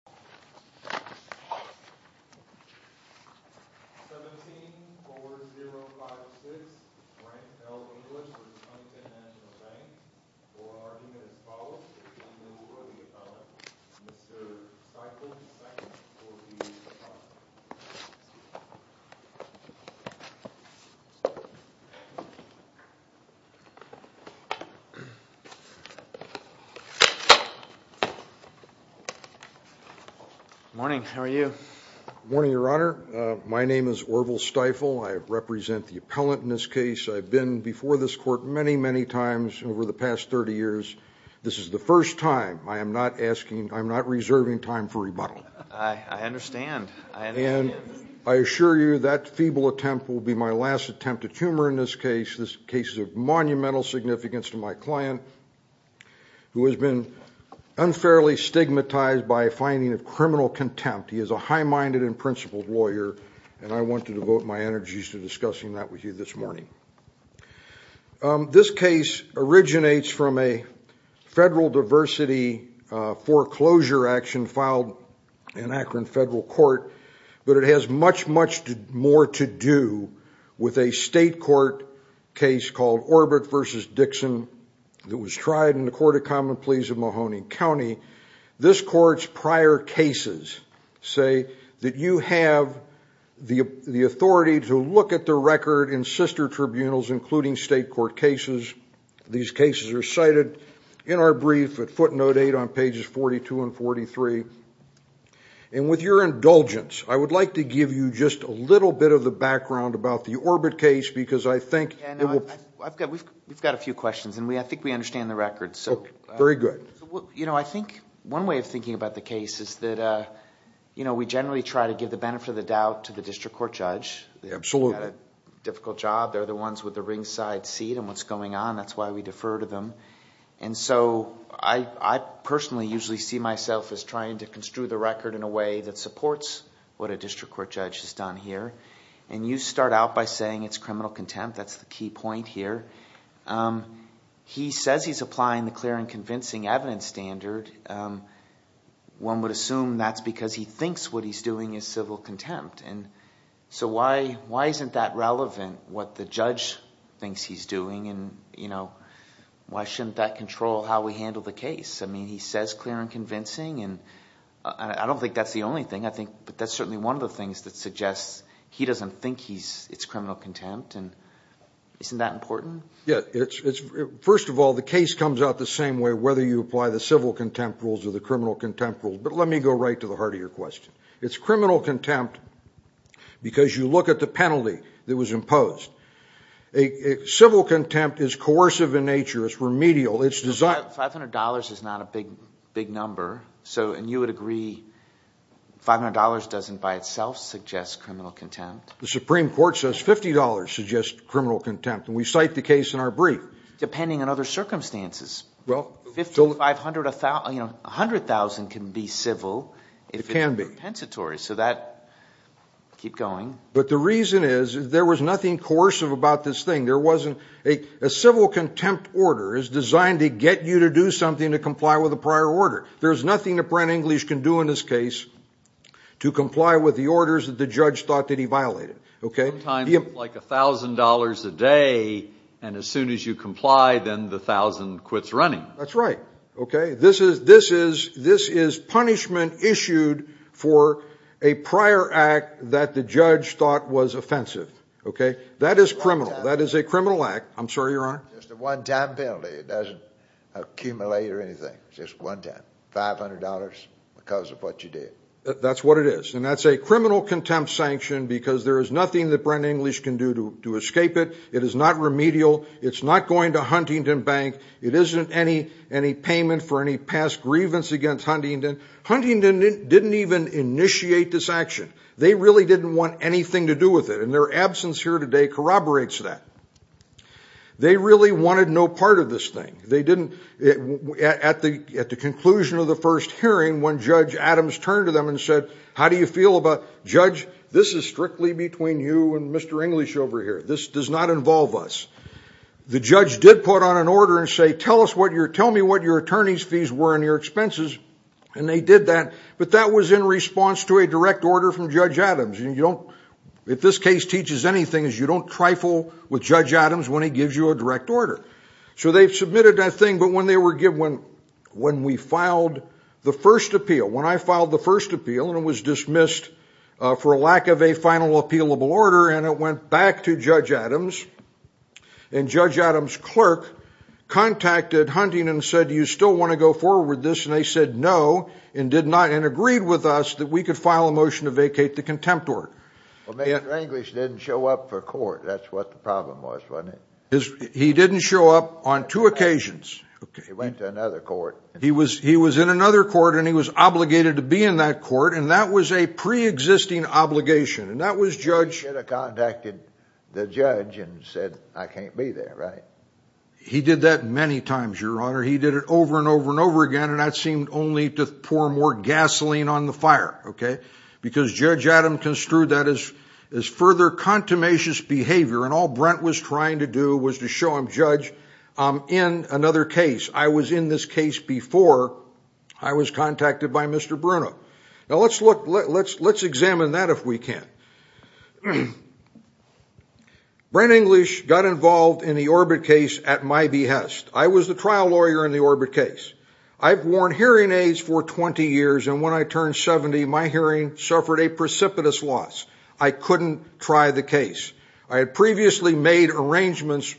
17-4056 Grant L. Inglis v. Huntington National Bank For argument as follows, it is unknown whether the appellant, Mr. Cycles II, will be acquitted. Good morning. How are you? Good morning, Your Honor. My name is Orval Stifel. I represent the appellant in this case. I've been before this court many, many times over the past 30 years. This is the first time I am not asking, I'm not reserving time for rebuttal. I understand. I understand. And I assure you that feeble attempt will be my last attempt at humor in this case. This case is of monumental significance to my client who has been unfairly stigmatized by a finding of criminal contempt. He is a high-minded and principled lawyer. And I want to devote my energies to discussing that with you this morning. This case originates from a federal diversity foreclosure action filed in Akron Federal Court. But it has much, much more to do with a state court case called Orbit v. Dixon that was tried in the Court of Common Pleas of Mahoning County. This court's prior cases say that you have the authority to look at the record in sister tribunals, including state court cases. These cases are cited in our brief at footnote 8 on pages 42 and 43. And with your indulgence, I would like to give you just a little bit of the background about the Orbit case because I think it will... We've got a few questions, and I think we understand the record. Very good. I think one way of thinking about the case is that we generally try to give the benefit of the doubt to the district court judge. Absolutely. They've got a difficult job. They're the ones with the ringside seat on what's going on. That's why we defer to them. I personally usually see myself as trying to construe the record in a way that supports what a district court judge has done here. And you start out by saying it's criminal contempt. That's the key point here. He says he's applying the clear and convincing evidence standard. One would assume that's because he thinks what he's doing is civil contempt. So why isn't that relevant, what the judge thinks he's doing? Why shouldn't that control how we handle the case? He says clear and convincing, and I don't think that's the only thing. But that's certainly one of the things that suggests he doesn't think it's criminal contempt. Isn't that important? First of all, the case comes out the same way whether you apply the civil contempt rules or the criminal contempt rules. But let me go right to the heart of your question. Civil contempt is coercive in nature. It's remedial. $500 is not a big number, and you would agree $500 doesn't by itself suggest criminal contempt. The Supreme Court says $50 suggests criminal contempt, and we cite the case in our brief. Depending on other circumstances. $100,000 can be civil. It can be. If it's compensatory. Keep going. But the reason is there was nothing coercive about this thing. A civil contempt order is designed to get you to do something to comply with a prior order. There's nothing that Brent English can do in this case to comply with the orders that the judge thought that he violated. Sometimes like $1,000 a day, and as soon as you comply, then the 1,000 quits running. That's right. This is punishment issued for a prior act that the judge thought was offensive. That is criminal. That is a criminal act. I'm sorry, Your Honor. Just a one-time penalty. It doesn't accumulate or anything. Just one time. $500 because of what you did. That's what it is. And that's a criminal contempt sanction because there is nothing that Brent English can do to escape it. It is not remedial. It's not going to Huntington Bank. It isn't any payment for any past grievance against Huntington. Huntington didn't even initiate this action. They really didn't want anything to do with it, and their absence here today corroborates that. They really wanted no part of this thing. At the conclusion of the first hearing, when Judge Adams turned to them and said, How do you feel about, Judge, this is strictly between you and Mr. English over here. This does not involve us. The judge did put on an order and say, Tell me what your attorney's fees were and your expenses. And they did that. But that was in response to a direct order from Judge Adams. You don't, if this case teaches anything, is you don't trifle with Judge Adams when he gives you a direct order. So they've submitted that thing. But when we filed the first appeal, when I filed the first appeal, and it was dismissed for a lack of a final appealable order, and it went back to Judge Adams, and Judge Adams' clerk contacted Huntington and said, Do you still want to go forward with this? And they said no, and agreed with us that we could file a motion to vacate the contempt order. Well, Mr. English didn't show up for court. That's what the problem was, wasn't it? He didn't show up on two occasions. He went to another court. He was in another court, and he was obligated to be in that court. And that was a preexisting obligation. He should have contacted the judge and said, I can't be there, right? He did that many times, Your Honor. He did it over and over and over again, and that seemed only to pour more gasoline on the fire. Because Judge Adams construed that as further contumacious behavior, and all Brent was trying to do was to show him, Judge, I'm in another case. I was in this case before I was contacted by Mr. Bruno. Now, let's examine that if we can. Brent English got involved in the Orbit case at my behest. I was the trial lawyer in the Orbit case. I've worn hearing aids for 20 years, and when I turned 70, my hearing suffered a precipitous loss. I couldn't try the case. I had previously made arrangements.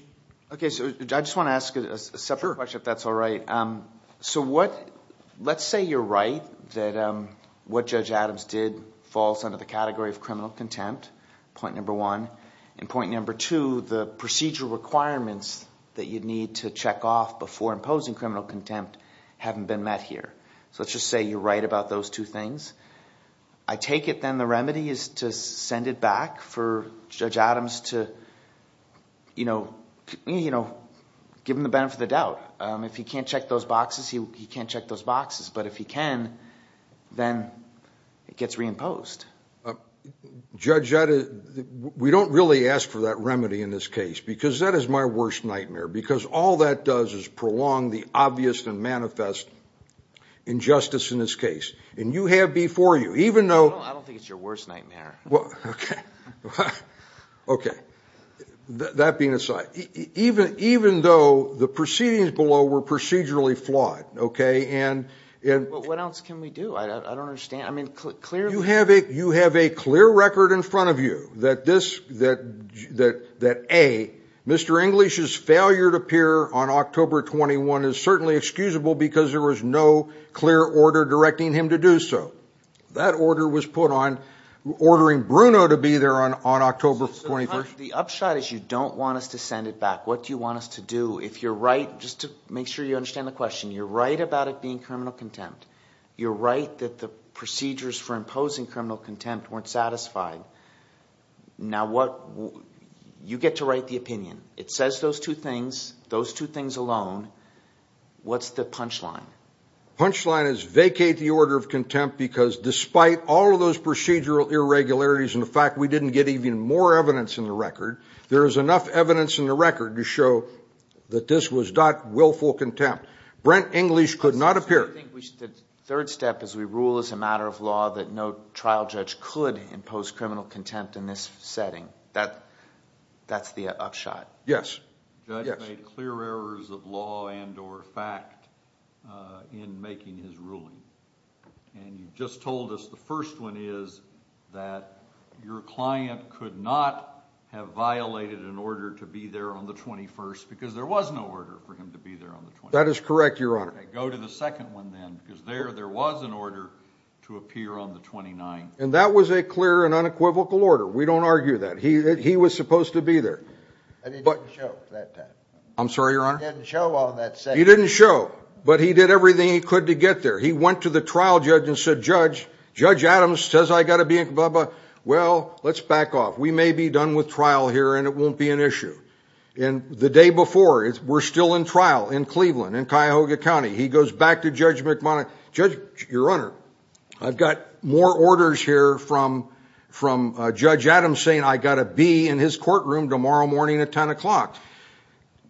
Okay, so I just want to ask a separate question, if that's all right. So let's say you're right that what Judge Adams did falls under the category of criminal contempt, point number one. And point number two, the procedural requirements that you'd need to check off before imposing criminal contempt haven't been met here. So let's just say you're right about those two things. I take it then the remedy is to send it back for Judge Adams to give him the benefit of the doubt. If he can't check those boxes, he can't check those boxes. But if he can, then it gets reimposed. Judge, we don't really ask for that remedy in this case because that is my worst nightmare because all that does is prolong the obvious and manifest injustice in this case. And you have before you, even though... I don't think it's your worst nightmare. Okay, that being aside, even though the proceedings below were procedurally flawed... What else can we do? I don't understand. You have a clear record in front of you that, A, Mr. English's failure to appear on October 21 is certainly excusable because there was no clear order directing him to do so. That order was put on ordering Bruno to be there on October 21. The upshot is you don't want us to send it back. What do you want us to do? If you're right... just to make sure you understand the question. You're right about it being criminal contempt. You're right that the procedures for imposing criminal contempt weren't satisfied. Now what... you get to write the opinion. It says those two things, those two things alone. What's the punchline? The punchline is vacate the order of contempt because despite all of those procedural irregularities and the fact we didn't get even more evidence in the record, there is enough evidence in the record to show that this was not willful contempt. Brent English could not appear. The third step is we rule as a matter of law that no trial judge could impose criminal contempt in this setting. That's the upshot. Yes. The judge made clear errors of law and or fact in making his ruling. And you just told us the first one is that your client could not have violated an order to be there on the 21st because there was no order for him to be there on the 21st. That is correct, Your Honor. Go to the second one then because there was an order to appear on the 29th. And that was a clear and unequivocal order. We don't argue that. He was supposed to be there. But he didn't show that time. I'm sorry, Your Honor? He didn't show on that setting. He didn't show. But he did everything he could to get there. He went to the trial judge and said, Judge, Judge Adams says I've got to be in. Well, let's back off. We may be done with trial here and it won't be an issue. And the day before, we're still in trial in Cleveland, in Cuyahoga County. He goes back to Judge McMonahan. Judge, Your Honor, I've got more orders here from Judge Adams saying I've got to be in his courtroom tomorrow morning at 10 o'clock.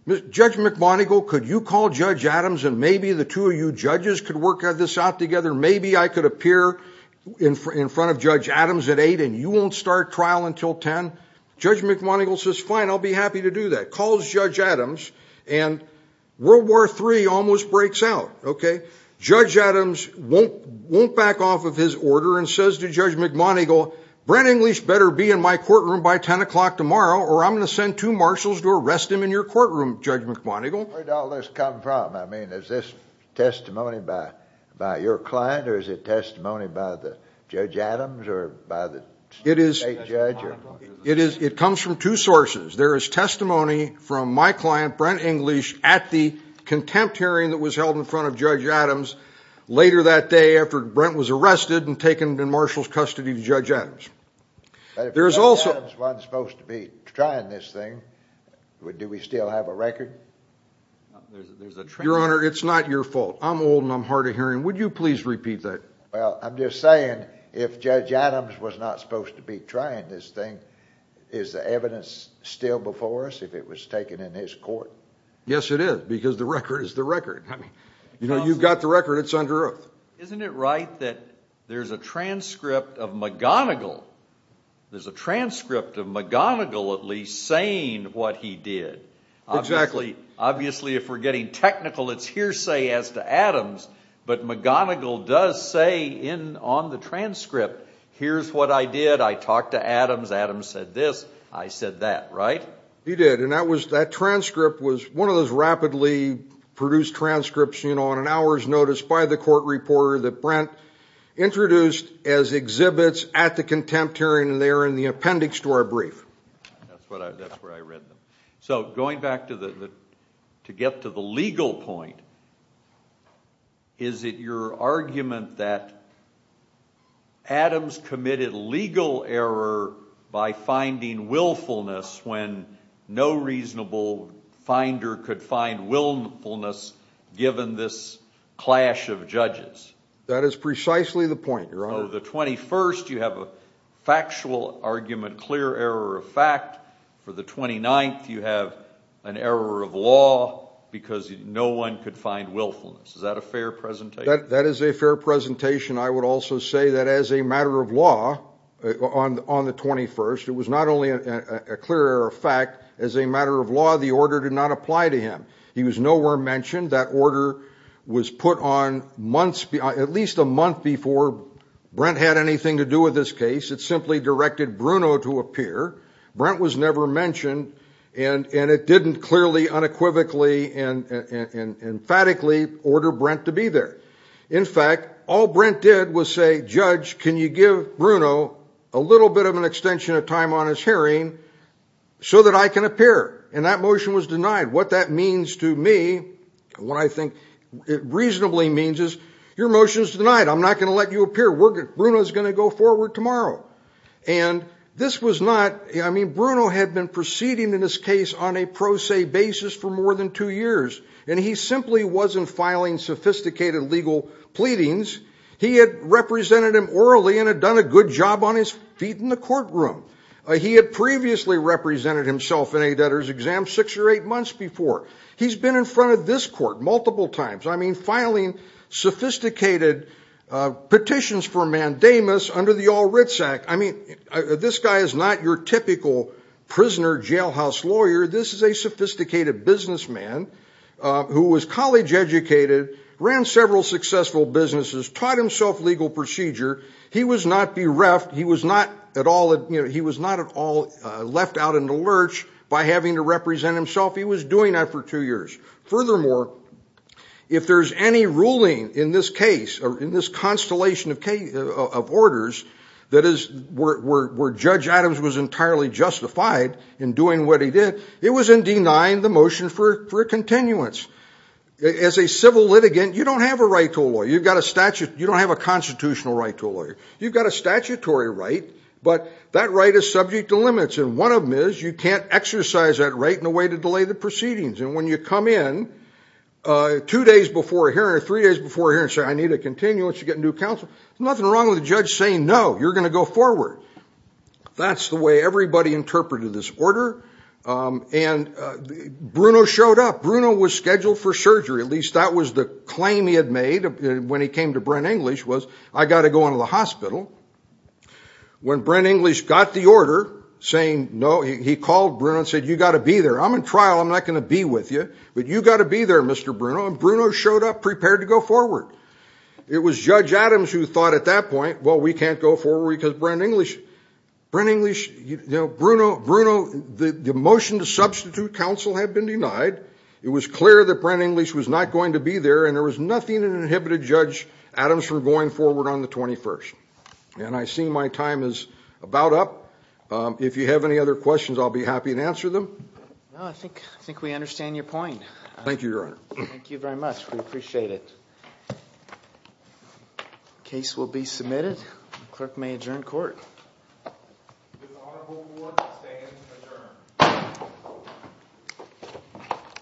Judge McMonigan, could you call Judge Adams and maybe the two of you judges could work this out together? Maybe I could appear in front of Judge Adams at 8 and you won't start trial until 10. Judge McMonigan says, Fine, I'll be happy to do that. Calls Judge Adams and World War III almost breaks out. Judge Adams won't back off of his order and says to Judge McMonigan, Brent English better be in my courtroom by 10 o'clock tomorrow or I'm going to send two marshals to arrest him in your courtroom, Judge McMonigan. Where did all this come from? I mean, is this testimony by your client or is it testimony by Judge Adams or by the state judge? It comes from two sources. There is testimony from my client, Brent English, at the contempt hearing that was held in front of Judge Adams later that day after Brent was arrested and taken in marshal's custody to Judge Adams. But if Judge Adams wasn't supposed to be trying this thing, do we still have a record? Your Honor, it's not your fault. I'm old and I'm hard of hearing. Would you please repeat that? Well, I'm just saying if Judge Adams was not supposed to be trying this thing, is the evidence still before us if it was taken in his court? Yes, it is, because the record is the record. You know, you've got the record. It's under oath. Isn't it right that there's a transcript of McGonigal, there's a transcript of McGonigal at least saying what he did? Exactly. Obviously, if we're getting technical, it's hearsay as to Adams, but McGonigal does say on the transcript, here's what I did. I talked to Adams. Adams said this. I said that, right? He did. And that transcript was one of those rapidly produced transcripts on an hour's notice by the court reporter that Brent introduced as exhibits at the contempt hearing, and they are in the appendix to our brief. That's where I read them. So going back to get to the legal point, is it your argument that Adams committed legal error by finding willfulness when no reasonable finder could find willfulness given this clash of judges? That is precisely the point, Your Honor. For the 21st, you have a factual argument, clear error of fact. For the 29th, you have an error of law because no one could find willfulness. Is that a fair presentation? That is a fair presentation. I would also say that as a matter of law on the 21st, it was not only a clear error of fact. As a matter of law, the order did not apply to him. He was nowhere mentioned. That order was put on at least a month before Brent had anything to do with this case. It simply directed Bruno to appear. Brent was never mentioned, and it didn't clearly, unequivocally, and emphatically order Brent to be there. In fact, all Brent did was say, Judge, can you give Bruno a little bit of an extension of time on his hearing so that I can appear? And that motion was denied. What that means to me, what I think it reasonably means, is your motion is denied. I'm not going to let you appear. Bruno is going to go forward tomorrow. And this was not ñ I mean Bruno had been proceeding in this case on a pro se basis for more than two years, and he simply wasn't filing sophisticated legal pleadings. He had represented him orally and had done a good job on his feet in the courtroom. He had previously represented himself in a debtor's exam six or eight months before. He's been in front of this court multiple times. I mean, filing sophisticated petitions for mandamus under the All Writs Act. I mean, this guy is not your typical prisoner jailhouse lawyer. This is a sophisticated businessman who was college educated, ran several successful businesses, taught himself legal procedure. He was not bereft. He was not at all left out in the lurch by having to represent himself. He was doing that for two years. Furthermore, if there's any ruling in this case, in this constellation of orders where Judge Adams was entirely justified in doing what he did, it was in denying the motion for a continuance. As a civil litigant, you don't have a right to a lawyer. You don't have a constitutional right to a lawyer. You've got a statutory right, but that right is subject to limits, and one of them is you can't exercise that right in a way to delay the proceedings. And when you come in two days before a hearing or three days before a hearing and say, I need a continuance to get a new counsel, there's nothing wrong with the judge saying, no, you're going to go forward. That's the way everybody interpreted this order, and Bruno showed up. Bruno was scheduled for surgery. At least that was the claim he had made when he came to Brent English was, I've got to go into the hospital. When Brent English got the order saying no, he called Bruno and said, you've got to be there. I'm in trial. I'm not going to be with you, but you've got to be there, Mr. Bruno, and Bruno showed up prepared to go forward. It was Judge Adams who thought at that point, well, we can't go forward because Brent English, Bruno, the motion to substitute counsel had been denied. It was clear that Brent English was not going to be there, and there was nothing that inhibited Judge Adams from going forward on the 21st. And I see my time is about up. If you have any other questions, I'll be happy to answer them. No, I think we understand your point. Thank you, Your Honor. Thank you very much. We appreciate it. Case will be submitted. Clerk may adjourn court.